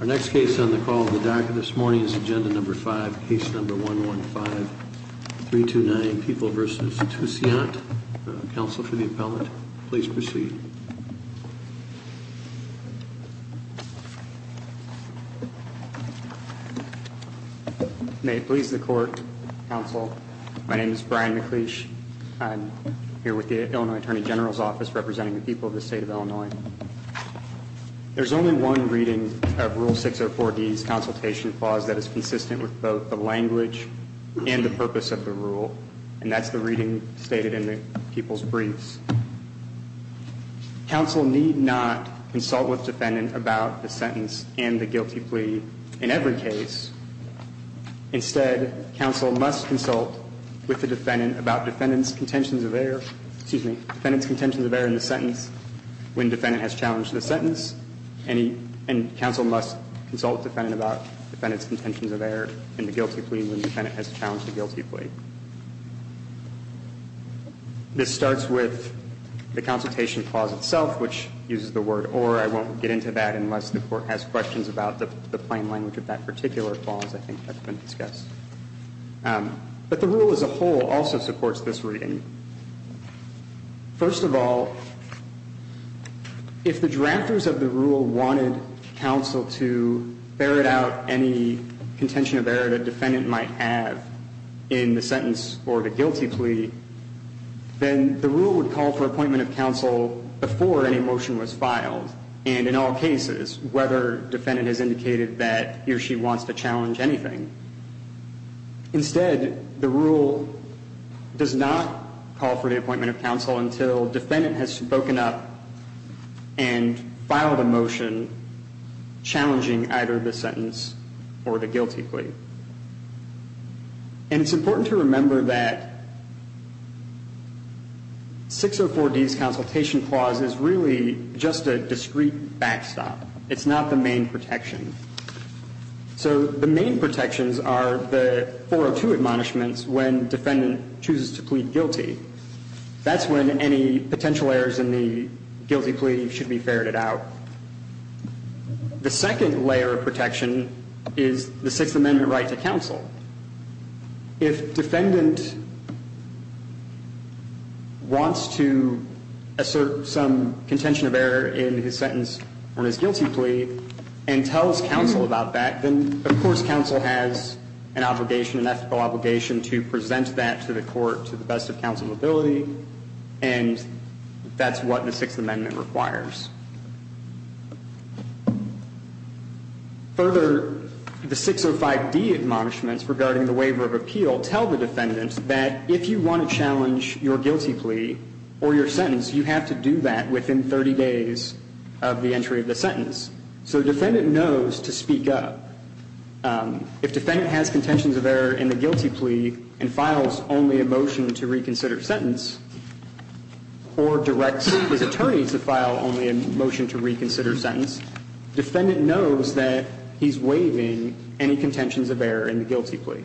Our next case on the call of the dark this morning is agenda number 5, case number 115-329, People v. Tousiant. Counsel for the appellant, please proceed. May it please the court, counsel. My name is Brian McLeish. I'm here with the Illinois Attorney General's Office representing the people of the state of Illinois. There's only one reading of Rule 604D's consultation clause that is consistent with both the language and the purpose of the rule, and that's the reading stated in the people's briefs. It says counsel need not consult with defendant about the sentence and the guilty plea in every case. Instead counsel must consult with the defendant about defendant's contentions of error – excuse me – the defendant's contentions of error in the sentence, when defense has challenged the sentence. And counsel must consult with defendant about defendant's contentions of error in the guilty plea when the defendant has challenged the guilty plea. This starts with the consultation clause itself, which uses the word or. I won't get into that unless the Court has questions about the plain language of that particular clause, I think, that's been discussed. But the rule as a whole also supports this reading. First of all, if the drafters of the rule wanted counsel to ferret out any contention of error the defendant might have in the sentence or the guilty plea, then the rule would call for appointment of counsel before any motion was filed, and in all cases, whether defendant has indicated that he or she wants to challenge anything. Instead, the rule does not call for the appointment of counsel until defendant has spoken up and filed a motion challenging either the sentence or the guilty plea. And it's important to remember that 604D's consultation clause is really just a discrete backstop. It's not the main protection. So the main protections are the 402 admonishments when defendant chooses to plead guilty. That's when any potential errors in the guilty plea should be ferreted out. The second layer of protection is the Sixth Amendment right to counsel. If defendant wants to assert some contention of error in his sentence or his guilty plea and tells counsel about that, then, of course, counsel has an obligation, an ethical obligation to present that to the court to the best of counsel's ability, and that's what the Sixth Amendment requires. Further, the 605D admonishments regarding the waiver of appeal tell the defendant that if you want to challenge your guilty plea or your sentence, you have to do that within 30 days of the entry of the sentence. So defendant knows to speak up. If defendant has contentions of error in the guilty plea and files only a motion to reconsider sentence or directs his attorney to file only a motion to reconsider sentence, defendant knows that he's waiving any contentions of error in the guilty plea.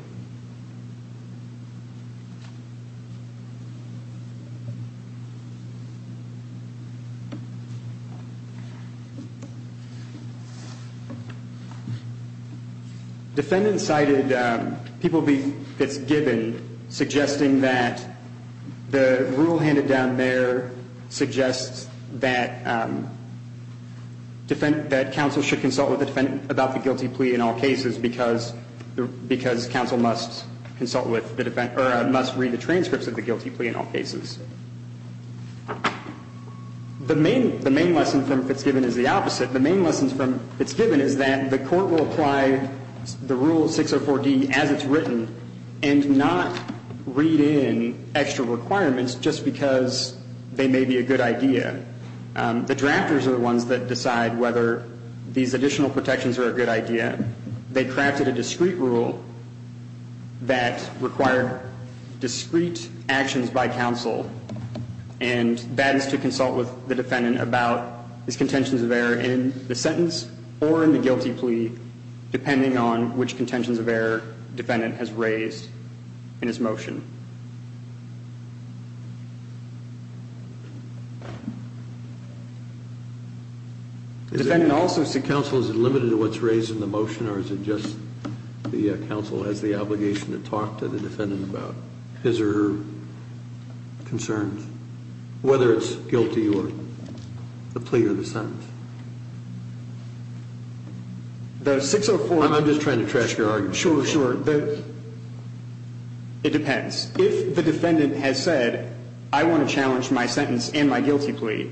Defendant cited people that's given, suggesting that the rule handed down there suggests that counsel should consult with the defendant about the guilty plea in all cases because counsel must consult with the defendant or must read the transcripts of the guilty plea in all cases. The main lesson from Fitzgibbon is the opposite. The main lesson from Fitzgibbon is that the court will apply the Rule 604D as it's written and not read in extra requirements just because they may be a good idea. The drafters are the ones that decide whether these additional protections are a good idea. They crafted a discrete rule that required discrete actions by counsel and that is to consult with the defendant about his contentions of error in the sentence or in the guilty plea, depending on which contentions of error defendant has raised in his motion. Counsel, is it limited to what's raised in the motion or is it just the counsel has the obligation to talk to the defendant about his or her concerns, whether it's guilty or the plea or the sentence? I'm just trying to trash your argument. Sure, sure. It depends. If the defendant has said, I want to challenge my sentence and my guilty plea,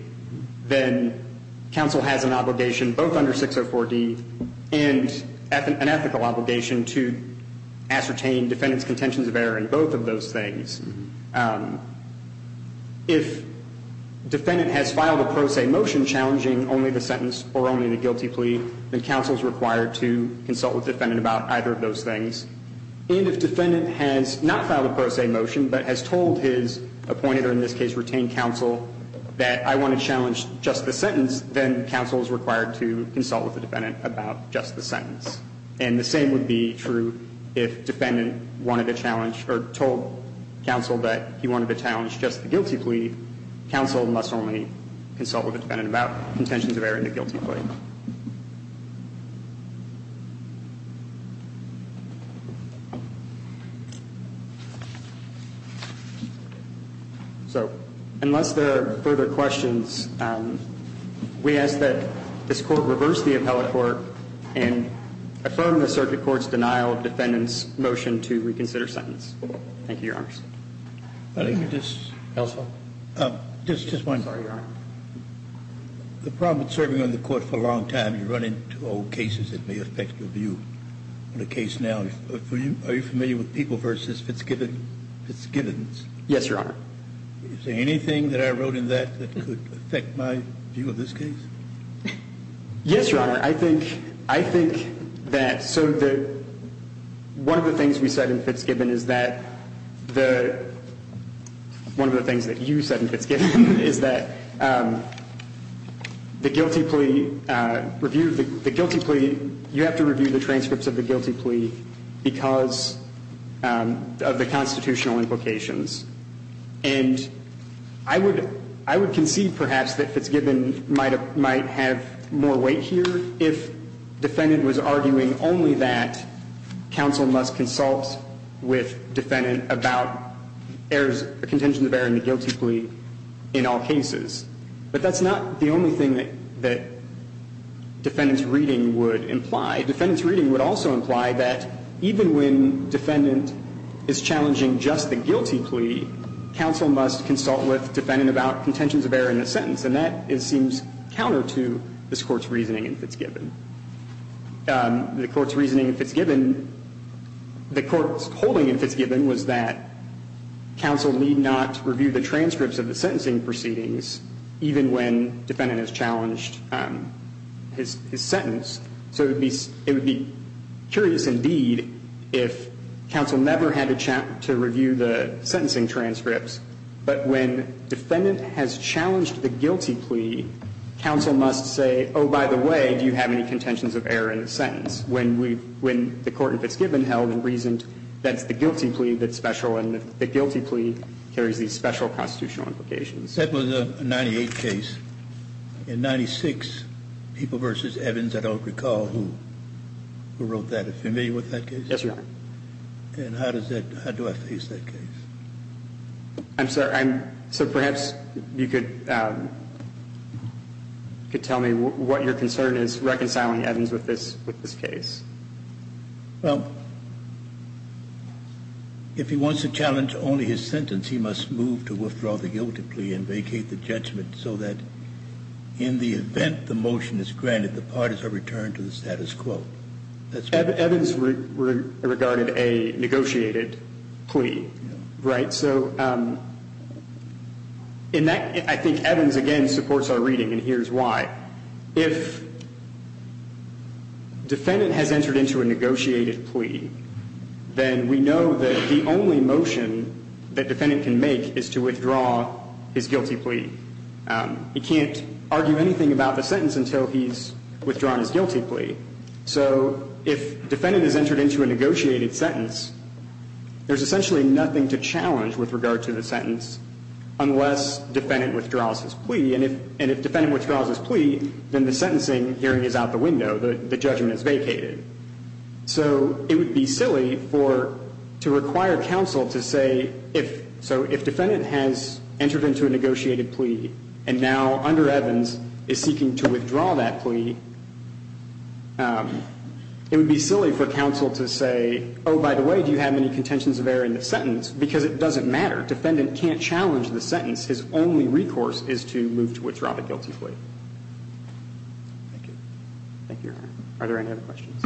then counsel has an obligation both under 604D and an ethical obligation to ascertain defendant's contentions of error in both of those things. If defendant has filed a pro se motion challenging only the sentence or only the guilty plea, then counsel is required to consult with defendant about either of those things. And if defendant has not filed a pro se motion but has told his appointed or in this case retained counsel that I want to challenge just the sentence, then counsel is required to consult with the defendant about just the sentence. And the same would be true if defendant wanted to challenge or told counsel that he wanted to challenge just the guilty plea, counsel must only consult with the defendant about contentions of error in the guilty plea. So unless there are further questions, we ask that this Court reverse the appellate court and affirm the circuit court's denial of defendant's motion to reconsider sentence. Thank you, Your Honors. Counsel? Just one. Sorry, Your Honor. The problem with serving on the court for a long time, you run into old cases that may affect your view. The case now, are you familiar with People v. Fitzgibbons? Yes, Your Honor. Is there anything that I wrote in that that could affect my view of this case? Yes, Your Honor. I think that so that one of the things we said in Fitzgibbon is that the one of the things that you said in Fitzgibbon is that the guilty plea, the guilty plea, you have to review the transcripts of the guilty plea because of the constitutional implications. And I would concede perhaps that Fitzgibbon might have more weight here if defendant was arguing only that counsel must consult with defendant about errors, the contentions of error in the guilty plea in all cases. But that's not the only thing that defendant's reading would imply. Defendant's reading would also imply that even when defendant is challenging just the guilty plea, counsel must consult with defendant about contentions of error in the sentence. And that seems counter to this Court's reasoning in Fitzgibbon. The Court's reasoning in Fitzgibbon, the Court's holding in Fitzgibbon was that counsel need not review the transcripts of the sentencing proceedings even when defendant has challenged his sentence. So it would be curious indeed if counsel never had to review the sentencing transcripts, but when defendant has challenged the guilty plea, counsel must say, oh, by the way, do you have any contentions of error in the sentence? When the Court in Fitzgibbon held and reasoned that's the guilty plea that's special and the guilty plea carries these special constitutional implications. And the Court would have to be able to review and consult with the defendant Good. Mr. Joseph? Yes. I think that that was a 98 case and 96 people versus Evans, I don't recall, who wrote that. Are you familiar with that case? Yes, Your Honor. And how does that – how do I face that case? I'm sorry. So perhaps you could tell me what your concern is reconciling Evans with this case. Well, if he wants to challenge only his sentence, he must move to withdraw the guilty plea and vacate the judgment so that in the event the motion is granted, the parties are returned to the status quo. Evans regarded a negotiated plea, right? So in that – I think Evans, again, supports our reading and here's why. If defendant has entered into a negotiated plea, then we know that the only motion that defendant can make is to withdraw his guilty plea. He can't argue anything about the sentence until he's withdrawn his guilty plea. So if defendant has entered into a negotiated sentence, there's essentially nothing to challenge with regard to the sentence unless defendant withdraws his plea. And if defendant withdraws his plea, then the sentencing hearing is out the window. The judgment is vacated. So it would be silly for – to require counsel to say if – so if defendant has entered into a negotiated plea and now under Evans is seeking to withdraw that plea, it would be silly for counsel to say, oh, by the way, do you have any contentions of error in the sentence? Because it doesn't matter. Defendant can't challenge the sentence. His only recourse is to move to withdraw the guilty plea. Thank you. Thank you, Your Honor. Are there any other questions?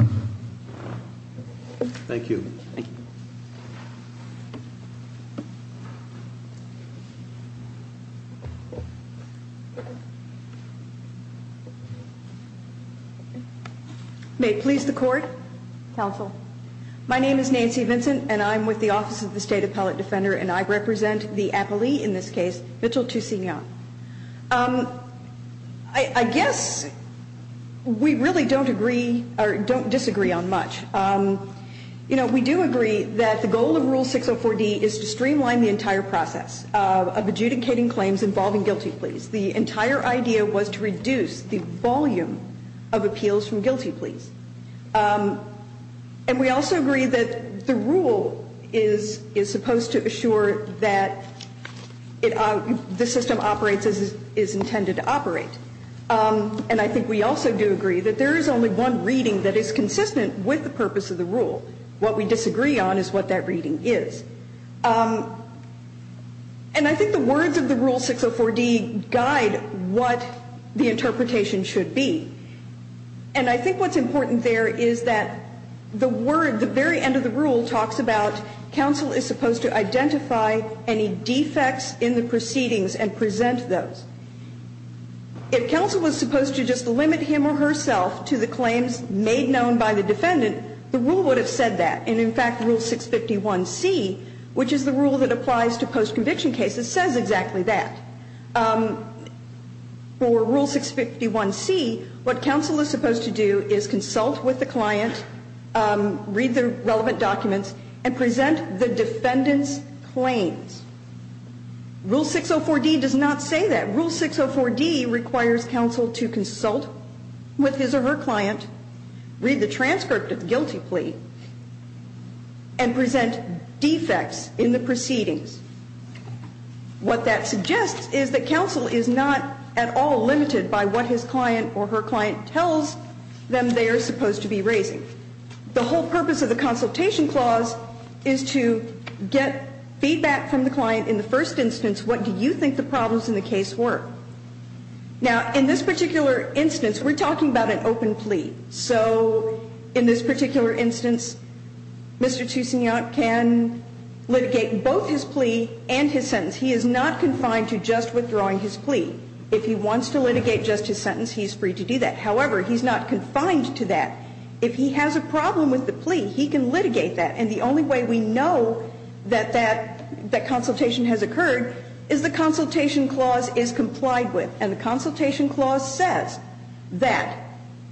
Thank you. Thank you. May it please the Court. Counsel. My name is Nancy Vincent, and I'm with the Office of the State Appellate Defender, and I represent the appellee in this case, Mitchell Toussignon. I guess we really don't agree – or don't disagree on much. You know, we do agree that the goal of Rule 604D is to streamline the entire process of adjudicating claims involving guilty pleas. The entire idea was to reduce the volume of appeals from guilty pleas. And we also agree that the rule is supposed to assure that the system operates as it is intended to operate. And I think we also do agree that there is only one reading that is consistent with the purpose of the rule. What we disagree on is what that reading is. And I think the words of the Rule 604D guide what the interpretation should be. And I think what's important there is that the word, the very end of the rule, talks about counsel is supposed to identify any defects in the proceedings and present those. If counsel was supposed to just limit him or herself to the claims made known by the defendant, the rule would have said that. And in fact, Rule 651C, which is the rule that applies to post-conviction cases, says exactly that. For Rule 651C, what counsel is supposed to do is consult with the client, read the relevant documents, and present the defendant's claims. Rule 604D does not say that. And Rule 604D requires counsel to consult with his or her client, read the transcript of the guilty plea, and present defects in the proceedings. What that suggests is that counsel is not at all limited by what his client or her client tells them they are supposed to be raising. The whole purpose of the consultation clause is to get feedback from the client in the first instance, what do you think the problems in the case were. Now, in this particular instance, we're talking about an open plea. So in this particular instance, Mr. Toussignac can litigate both his plea and his sentence. He is not confined to just withdrawing his plea. If he wants to litigate just his sentence, he's free to do that. However, he's not confined to that. If he has a problem with the plea, he can litigate that. And the only way we know that that consultation has occurred is the consultation clause is complied with, and the consultation clause says that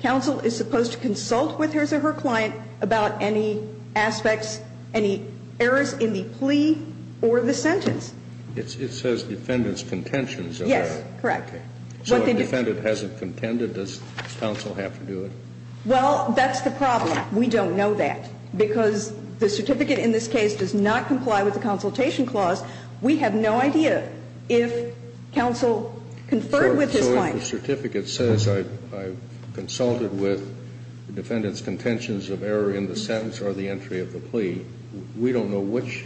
counsel is supposed to consult with his or her client about any aspects, any errors in the plea or the sentence. It says defendant's contentions. Yes, correct. So if the defendant hasn't contended, does counsel have to do it? Well, that's the problem. We don't know that. Because the certificate in this case does not comply with the consultation clause, we have no idea if counsel conferred with his client. So if the certificate says I've consulted with the defendant's contentions of error in the sentence or the entry of the plea, we don't know which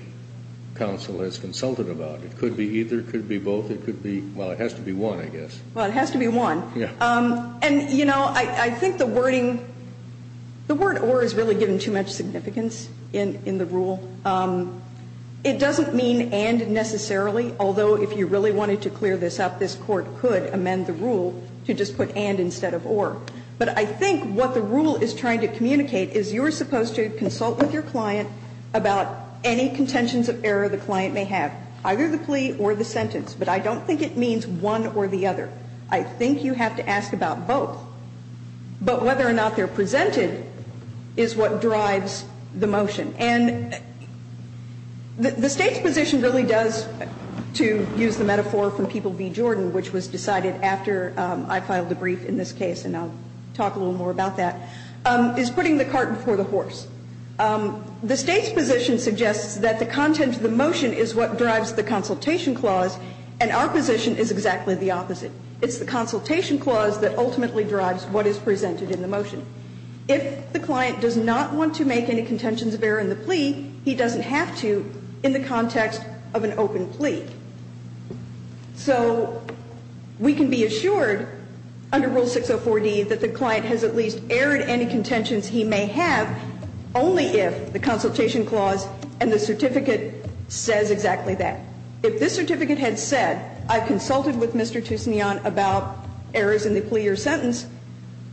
counsel has consulted about it. It could be either, it could be both, it could be, well, it has to be one, I guess. Well, it has to be one. Yes. And, you know, I think the wording, the word or is really given too much significance in the rule. It doesn't mean and necessarily, although if you really wanted to clear this up, this Court could amend the rule to just put and instead of or. But I think what the rule is trying to communicate is you're supposed to consult with your client about any contentions of error the client may have, either the plea or the sentence. But I don't think it means one or the other. I think you have to ask about both. But whether or not they're presented is what drives the motion. And the State's position really does, to use the metaphor from People v. Jordan, which was decided after I filed a brief in this case, and I'll talk a little more about that, is putting the cart before the horse. The State's position suggests that the content of the motion is what drives the consultation clause, and our position is exactly the opposite. It's the consultation clause that ultimately drives what is presented in the motion. If the client does not want to make any contentions of error in the plea, he doesn't have to in the context of an open plea. So we can be assured under Rule 604D that the client has at least erred any contentions he may have only if the consultation clause and the certificate says exactly that. If this certificate had said, I consulted with Mr. Toussignant about errors in the plea or sentence,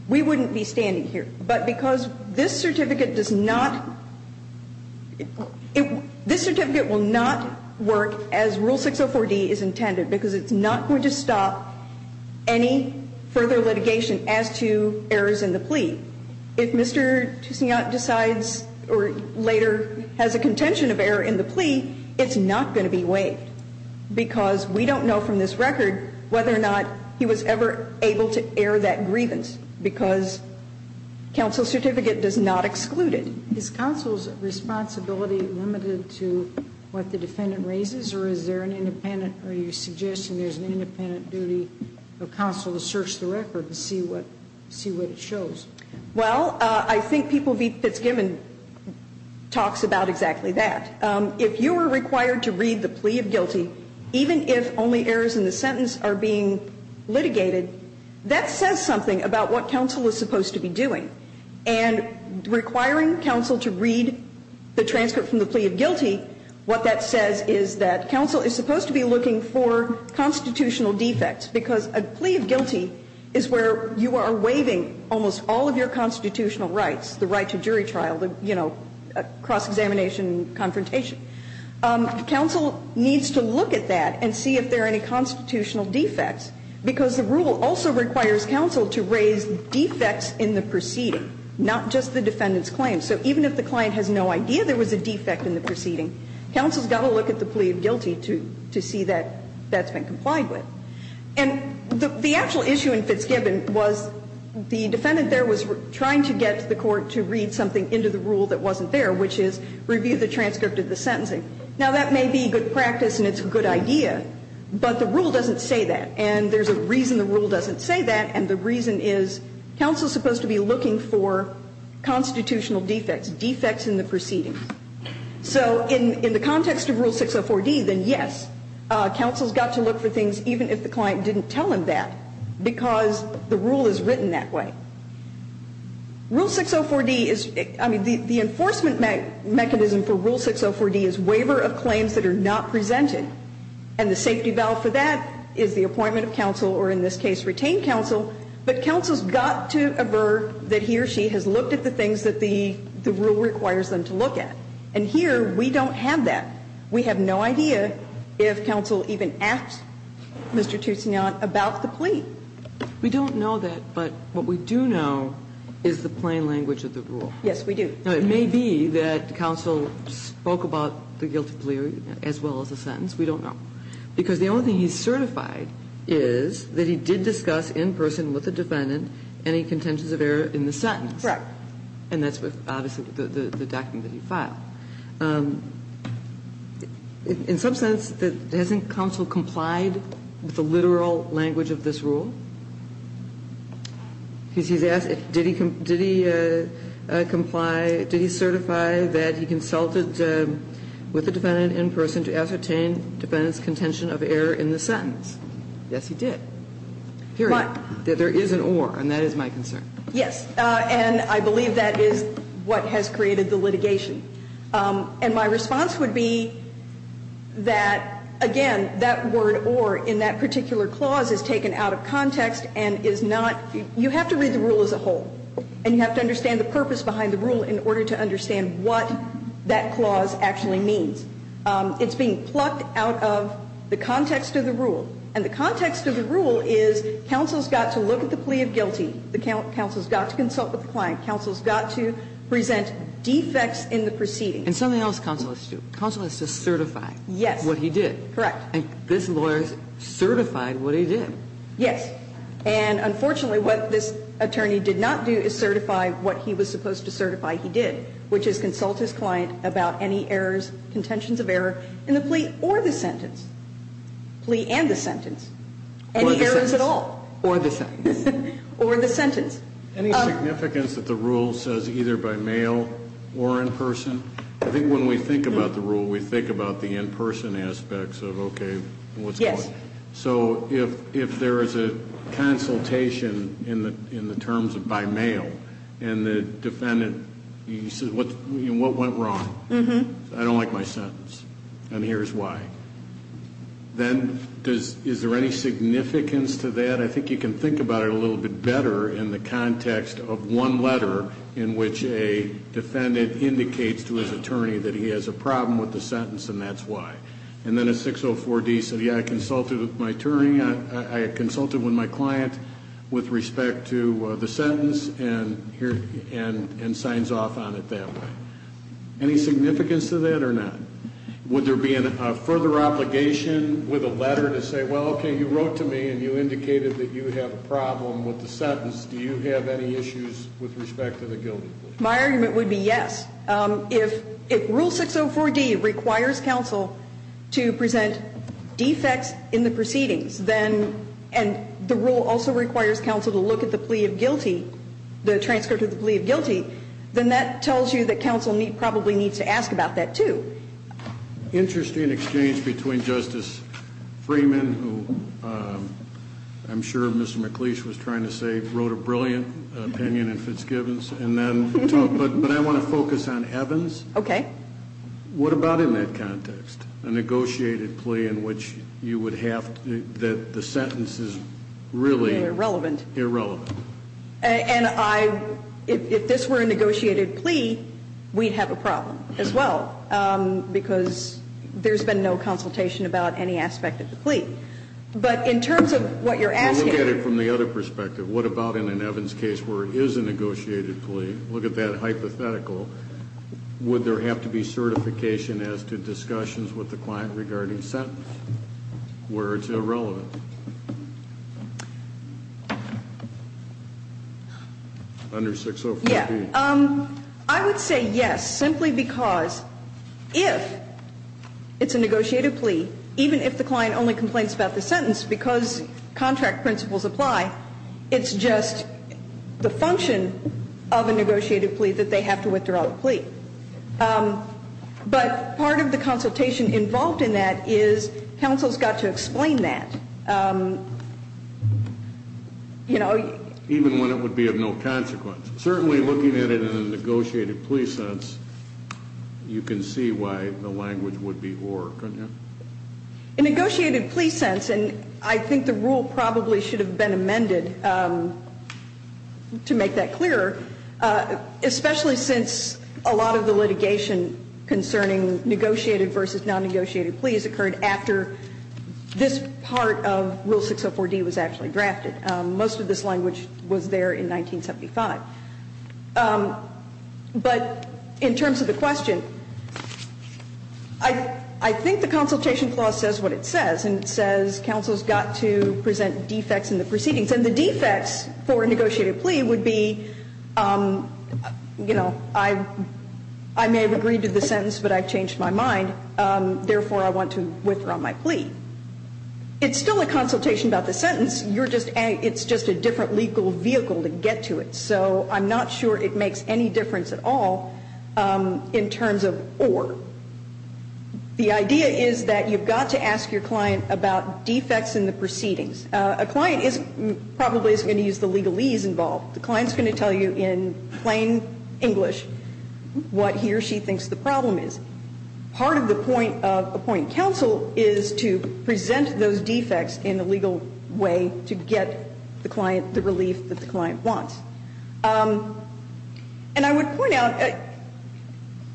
we wouldn't be standing here. But because this certificate does not, this certificate will not work as Rule 604D is intended, because it's not going to stop any further litigation as to errors in the plea. If Mr. Toussignant decides or later has a contention of error in the plea, it's not going to be waived, because we don't know from this record whether or not he was ever able to err that grievance, because counsel's certificate does not exclude it. Is counsel's responsibility limited to what the defendant raises, or is there an independent, or are you suggesting there's an independent duty for counsel to search the record to see what it shows? Well, I think People v. Fitzgibbon talks about exactly that. If you are required to read the plea of guilty, even if only errors in the sentence are being litigated, that says something about what counsel is supposed to be doing. And requiring counsel to read the transcript from the plea of guilty, what that says is that counsel is supposed to be looking for constitutional defects, because a plea of guilty is where you are waiving almost all of your constitutional rights, the right to jury trial, the, you know, cross-examination confrontation. Counsel needs to look at that and see if there are any constitutional defects, because the rule also requires counsel to raise defects in the proceeding, not just the defendant's claim. So even if the client has no idea there was a defect in the proceeding, counsel's got to look at the plea of guilty to see that that's been complied with. And the actual issue in Fitzgibbon was the defendant there was trying to get the Court to read something into the rule that wasn't there, which is review the transcript of the sentencing. Now, that may be good practice and it's a good idea, but the rule doesn't say that. And there's a reason the rule doesn't say that, and the reason is counsel is supposed to be looking for constitutional defects, defects in the proceedings. So in the context of Rule 604D, then yes, counsel's got to look for things even if the client didn't tell him that, because the rule is written that way. Rule 604D is, I mean, the enforcement mechanism for Rule 604D is waiver of claims that are not presented, and the safety valve for that is the appointment of counsel or in this case retained counsel, but counsel's got to aver that he or she has looked at the things that the rule requires them to look at. And here we don't have that. We have no idea if counsel even asked Mr. Toussignan about the plea. We don't know that, but what we do know is the plain language of the rule. Yes, we do. Now, it may be that counsel spoke about the guilty plea as well as the sentence. We don't know. Because the only thing he's certified is that he did discuss in person with the defendant any contentions of error in the sentence. Correct. And that's obviously the document that he filed. In some sense, hasn't counsel complied with the literal language of this rule? Because he's asked, did he comply, did he certify that he consulted with the defendant in person to ascertain the defendant's contention of error in the sentence? Yes, he did. Period. There is an or, and that is my concern. Yes. And I believe that is what has created the litigation. And my response would be that, again, that word or in that particular clause is taken out of context and is not you have to read the rule as a whole. And you have to understand the purpose behind the rule in order to understand what that clause actually means. It's being plucked out of the context of the rule. And the context of the rule is counsel's got to look at the plea of guilty. Counsel's got to consult with the client. Counsel's got to present defects in the proceedings. And something else counsel has to do. Counsel has to certify what he did. Yes. Correct. And this lawyer certified what he did. Yes. And unfortunately, what this attorney did not do is certify what he was supposed to certify he did, which is consult his client about any errors, contentions of error in the plea or the sentence. Plea and the sentence. Or the sentence. Any errors at all. Or the sentence. Or the sentence. Any significance that the rule says either by mail or in person? I think when we think about the rule, we think about the in-person aspects of, okay, what's going on. Yes. So if there is a consultation in the terms of by mail and the defendant, he says, what went wrong? Mm-hmm. I don't like my sentence. And here's why. Then is there any significance to that? I think you can think about it a little bit better in the context of one letter in which a defendant indicates to his attorney that he has a problem with the sentence and that's why. And then a 604D said, yeah, I consulted with my client with respect to the sentence and signs off on it that way. Any significance to that or not? Would there be a further obligation with a letter to say, well, okay, you wrote to me and you indicated that you have a problem with the sentence. Do you have any issues with respect to the guilty plea? My argument would be yes. If rule 604D requires counsel to present defects in the proceedings, then, and the rule also requires counsel to look at the plea of guilty, the transcript of the plea of guilty, then that tells you that counsel probably needs to ask about that, too. Interesting exchange between Justice Freeman, who I'm sure Mr. McLeish was trying to say wrote a brilliant opinion in Fitzgibbon's, and then, but I want to focus on Evans. Okay. What about in that context? A negotiated plea in which you would have that the sentence is really irrelevant. Irrelevant. And I, if this were a negotiated plea, we'd have a problem as well, because there's been no consultation about any aspect of the plea. But in terms of what you're asking. Well, look at it from the other perspective. What about in an Evans case where it is a negotiated plea? Look at that hypothetical. Would there have to be certification as to discussions with the client regarding sentence where it's irrelevant? Under 604B. Yeah. I would say yes, simply because if it's a negotiated plea, even if the client only complains about the sentence, because contract principles apply, it's just the function of a negotiated plea that they have to withdraw the plea. But part of the consultation involved in that is counsel's got to explain that. You know. Even when it would be of no consequence. Certainly looking at it in a negotiated plea sense, you can see why the language would be or, couldn't you? In a negotiated plea sense, and I think the rule probably should have been amended to make that clearer, especially since a lot of the litigation concerning negotiated versus non-negotiated pleas occurred after this part of Rule 604D was actually drafted. Most of this language was there in 1975. But in terms of the question, I think the consultation clause says what it says, and it says counsel's got to present defects in the proceedings. And the defects for a negotiated plea would be, you know, I may have agreed to the sentence, but I've changed my mind. Therefore, I want to withdraw my plea. It's still a consultation about the sentence. It's just a different legal vehicle to get to it. So I'm not sure it makes any difference at all in terms of or. The idea is that you've got to ask your client about defects in the proceedings. A client probably isn't going to use the legalese involved. The client's going to tell you in plain English what he or she thinks the problem is. Part of the point of appointing counsel is to present those defects in a legal way to get the client the relief that the client wants. And I would point out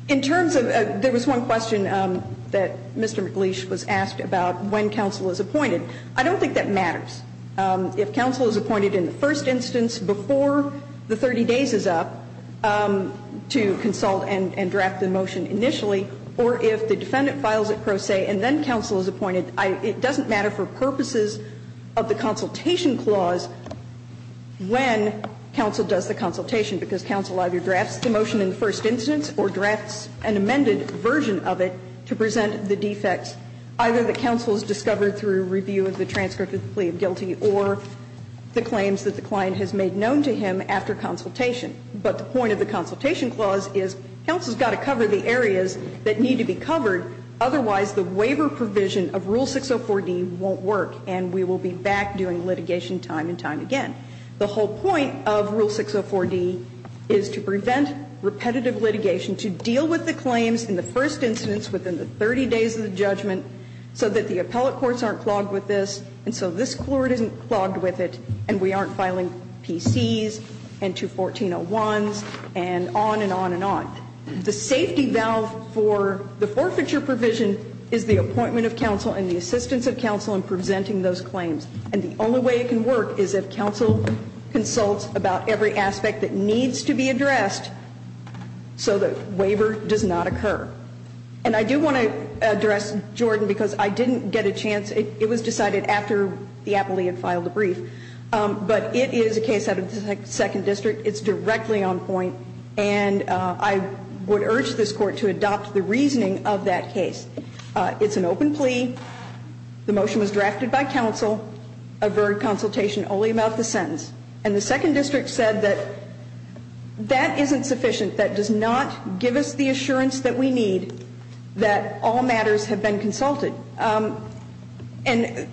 in terms of there was one question that Mr. McLeish was asked about when counsel is appointed. I don't think that matters. If counsel is appointed in the first instance before the 30 days is up to consult and draft the motion initially, or if the defendant files it pro se and then counsel is appointed, it doesn't matter for purposes of the consultation clause when counsel does the consultation, because counsel either drafts the motion in the first instance or drafts an amended version of it to present the defects, either the counsel's got to cover the areas that need to be covered, otherwise the waiver provision of Rule 604D won't work and we will be back doing litigation time and time again. The whole point of Rule 604D is to prevent repetitive litigation, to deal with the claims in the first instance within the 30 days of the judgment so that the appellate courts aren't clogged with this and so this Court isn't clogged with it and we aren't filing PC's and 21401's and on and on and on. The safety valve for the forfeiture provision is the appointment of counsel and the assistance of counsel in presenting those claims. And the only way it can work is if counsel consults about every aspect that needs to be addressed so that waiver does not occur. And I do want to address Jordan because I didn't get a chance. It was decided after the appellee had filed a brief. But it is a case out of the Second District. It's directly on point. And I would urge this Court to adopt the reasoning of that case. It's an open plea. The motion was drafted by counsel. Averted consultation only about the sentence. And the Second District said that that isn't sufficient. That does not give us the assurance that we need that all matters have been consulted. And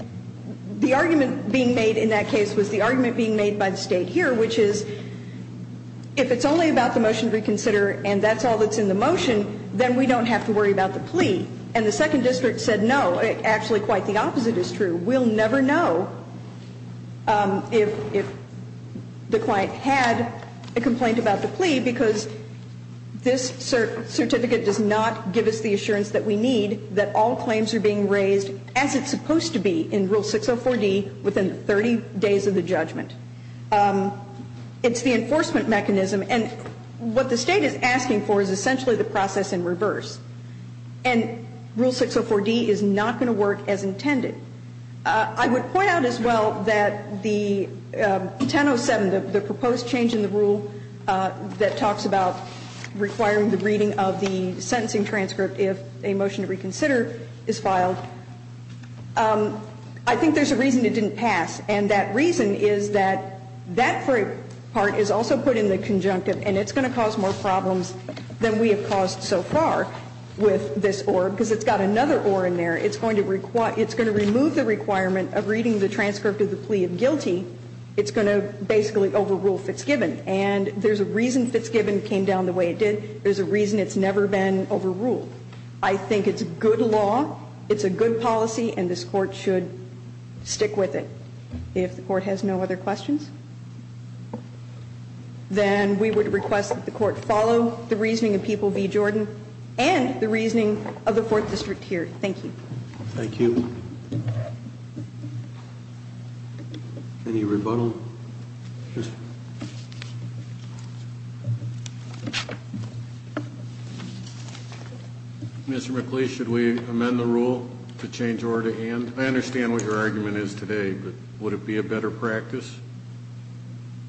the argument being made in that case was the argument being made by the State here, which is if it's only about the motion to reconsider and that's all that's in the motion, then we don't have to worry about the plea. And the Second District said no. Actually, quite the opposite is true. We'll never know if the client had a complaint about the plea because this certificate does not give us the assurance that we need that all claims are being raised as it's supposed to be in Rule 604D within 30 days of the judgment. It's the enforcement mechanism. And what the State is asking for is essentially the process in reverse. And Rule 604D is not going to work as intended. I would point out as well that the 1007, the proposed change in the rule that talks about requiring the reading of the sentencing transcript if a motion to reconsider is filed, I think there's a reason it didn't pass. And that reason is that that part is also put in the conjunctive, and it's going to cause more problems than we have caused so far with this ORB because it's got another ORB in there. It's going to remove the requirement of reading the transcript of the plea of guilty. It's going to basically overrule Fitzgibbon. And there's a reason Fitzgibbon came down the way it did. There's a reason it's never been overruled. I think it's good law, it's a good policy, and this Court should stick with it. If the Court has no other questions, then we would request that the Court follow the reasoning of People v. Jordan and the reasoning of the Fourth District here. Thank you. Thank you. Any rebuttal? No. Mr. McLeish, should we amend the rule to change OR to AND? I understand what your argument is today, but would it be a better practice?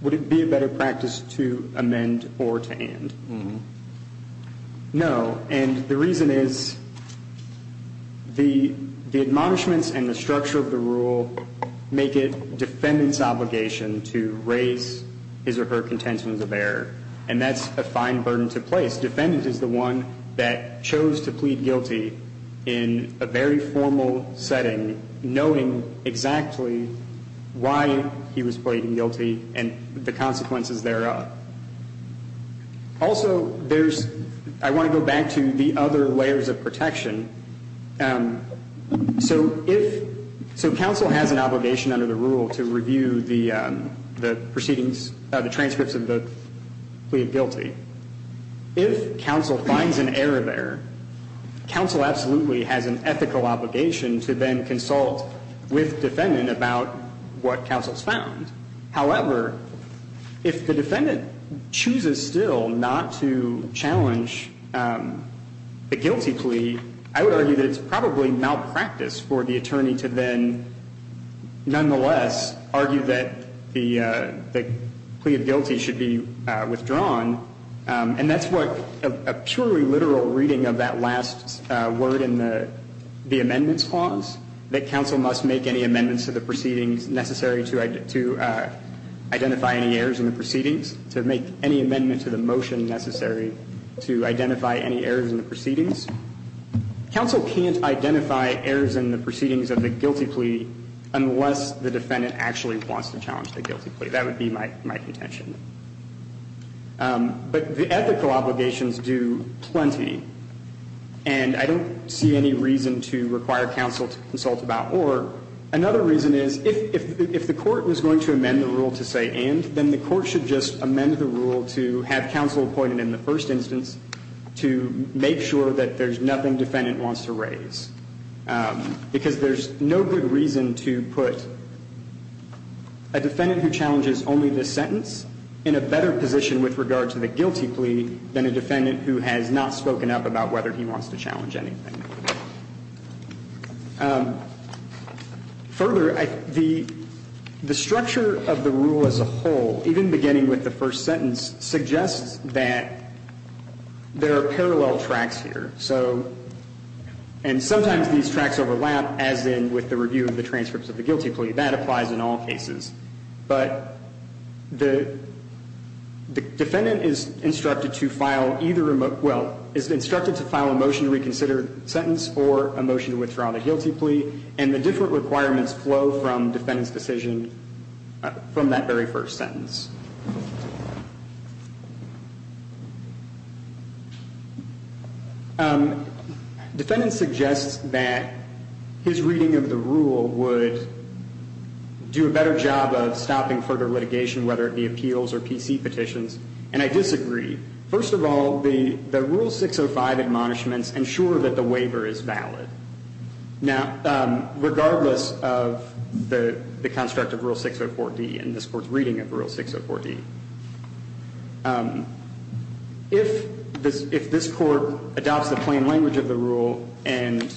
Would it be a better practice to amend OR to AND? No. And the reason is the admonishments and the structure of the rule make it the defendant's obligation to raise his or her contentions of error, and that's a fine burden to place. Defendant is the one that chose to plead guilty in a very formal setting, knowing exactly why he was pleading guilty and the consequences thereof. Also, there's – I want to go back to the other layers of protection. So if – so counsel has an obligation under the rule to review the proceedings – the transcripts of the plea of guilty. If counsel finds an error there, counsel absolutely has an ethical obligation to then consult with defendant about what counsel's found. However, if the defendant chooses still not to challenge the guilty plea, I would argue that it's probably malpractice for the attorney to then nonetheless argue that the plea of guilty should be withdrawn. And that's what a purely literal reading of that last word in the amendments clause, that counsel must make any amendments to the proceedings necessary to identify any errors in the proceedings, to make any amendment to the motion necessary to identify any errors in the proceedings. Counsel can't identify errors in the proceedings of the guilty plea unless the defendant actually wants to challenge the guilty plea. That would be my contention. But the ethical obligations do plenty, and I don't see any reason to require counsel to consult about or. Another reason is if the court was going to amend the rule to say and, then the court should just amend the rule to have counsel appointed in the first instance to make sure that there's nothing defendant wants to raise. Because there's no good reason to put a defendant who challenges only this sentence in a better position with regard to the guilty plea than a defendant who has not spoken up about whether he wants to challenge anything. Further, the structure of the rule as a whole, even beginning with the first sentence, suggests that there are parallel tracks here. So, and sometimes these tracks overlap, as in with the review of the transcripts of the guilty plea. That applies in all cases. But the defendant is instructed to file either, well, is instructed to file a motion to reconsider a sentence or a motion to withdraw the guilty plea. And the different requirements flow from defendant's decision from that very first sentence. Defendant suggests that his reading of the rule would do a better job of stopping further litigation, whether it be appeals or PC petitions. And I disagree. First of all, the Rule 605 admonishments ensure that the waiver is valid. Now, regardless of the construct of Rule 604D and this Court's reading of Rule 604D, if this Court adopts the plain language of the rule and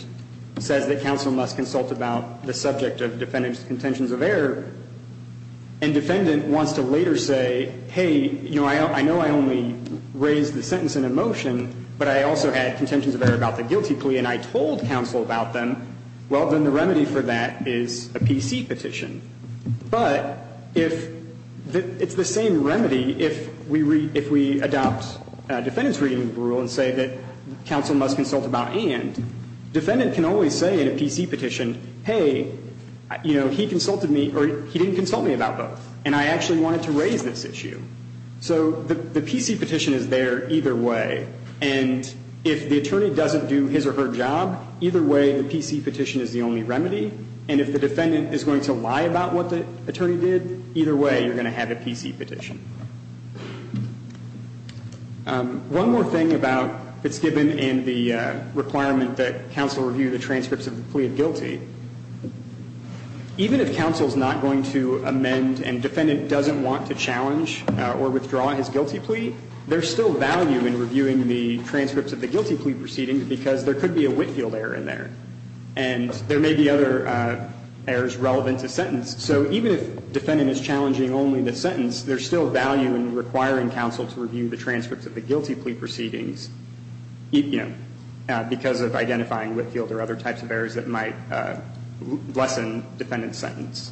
says that counsel must consult about the subject of defendant's contentions of error, and defendant wants to later say, hey, you know, I know I only raised the sentence in a motion, but I also had contentions of error about the guilty plea and I told counsel about them, well, then the remedy for that is a PC petition. But if it's the same remedy if we adopt defendant's reading of the rule and say that counsel must consult about and, defendant can always say in a PC petition, hey, you know, I actually wanted to raise this issue. So the PC petition is there either way. And if the attorney doesn't do his or her job, either way the PC petition is the only remedy. And if the defendant is going to lie about what the attorney did, either way you're going to have a PC petition. One more thing about Fitzgibbon and the requirement that counsel review the transcripts of the plea of guilty. Even if counsel is not going to amend and defendant doesn't want to challenge or withdraw his guilty plea, there's still value in reviewing the transcripts of the guilty plea proceedings because there could be a Whitefield error in there and there may be other errors relevant to sentence. So even if defendant is challenging only the sentence, there's still value in requiring counsel to review the transcripts of the guilty plea proceedings, you know, because of identifying Whitefield or other types of errors that might lessen defendant's sentence.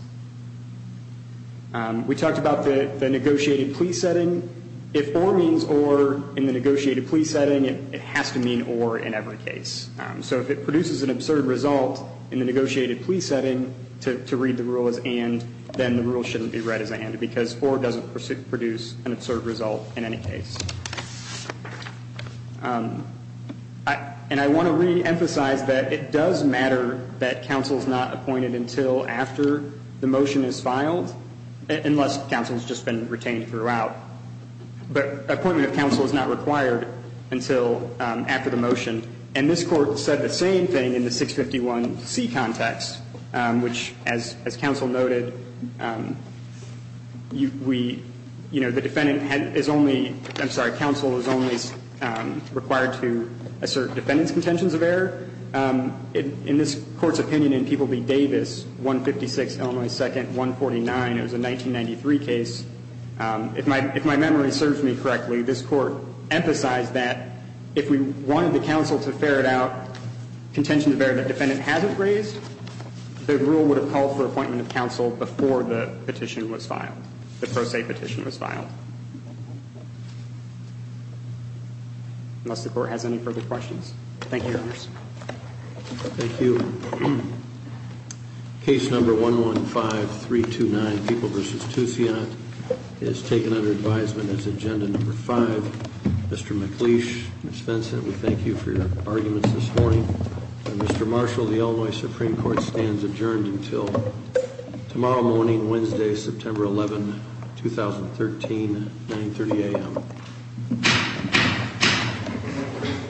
We talked about the negotiated plea setting. If or means or in the negotiated plea setting, it has to mean or in every case. So if it produces an absurd result in the negotiated plea setting to read the rule as and, then the rule shouldn't be read as and because or doesn't produce an absurd result in any case. And I want to reemphasize that it does matter that counsel is not appointed until after the motion is filed, unless counsel has just been retained throughout. But appointment of counsel is not required until after the motion. And this Court said the same thing in the 651C context, which, as counsel noted, we, you know, the defendant is only, I'm sorry, counsel is only required to assert defendant's contentions of error. In this Court's opinion in People v. Davis, 156 Illinois 2nd, 149, it was a 1993 case, if my memory serves me correctly, this Court emphasized that if we wanted the counsel to ferret out contentions of error that defendant hasn't raised, the rule would have to call for appointment of counsel before the petition was filed, the pro se petition was filed. Unless the Court has any further questions. Thank you, Your Honors. Thank you. Case number 115329, People v. Toussaint, is taken under advisement as agenda number 5. Mr. McLeish, Ms. Benson, we thank you for your arguments this morning. Mr. Marshall, the Illinois Supreme Court stands adjourned until tomorrow morning, Wednesday, September 11, 2013, 930 a.m.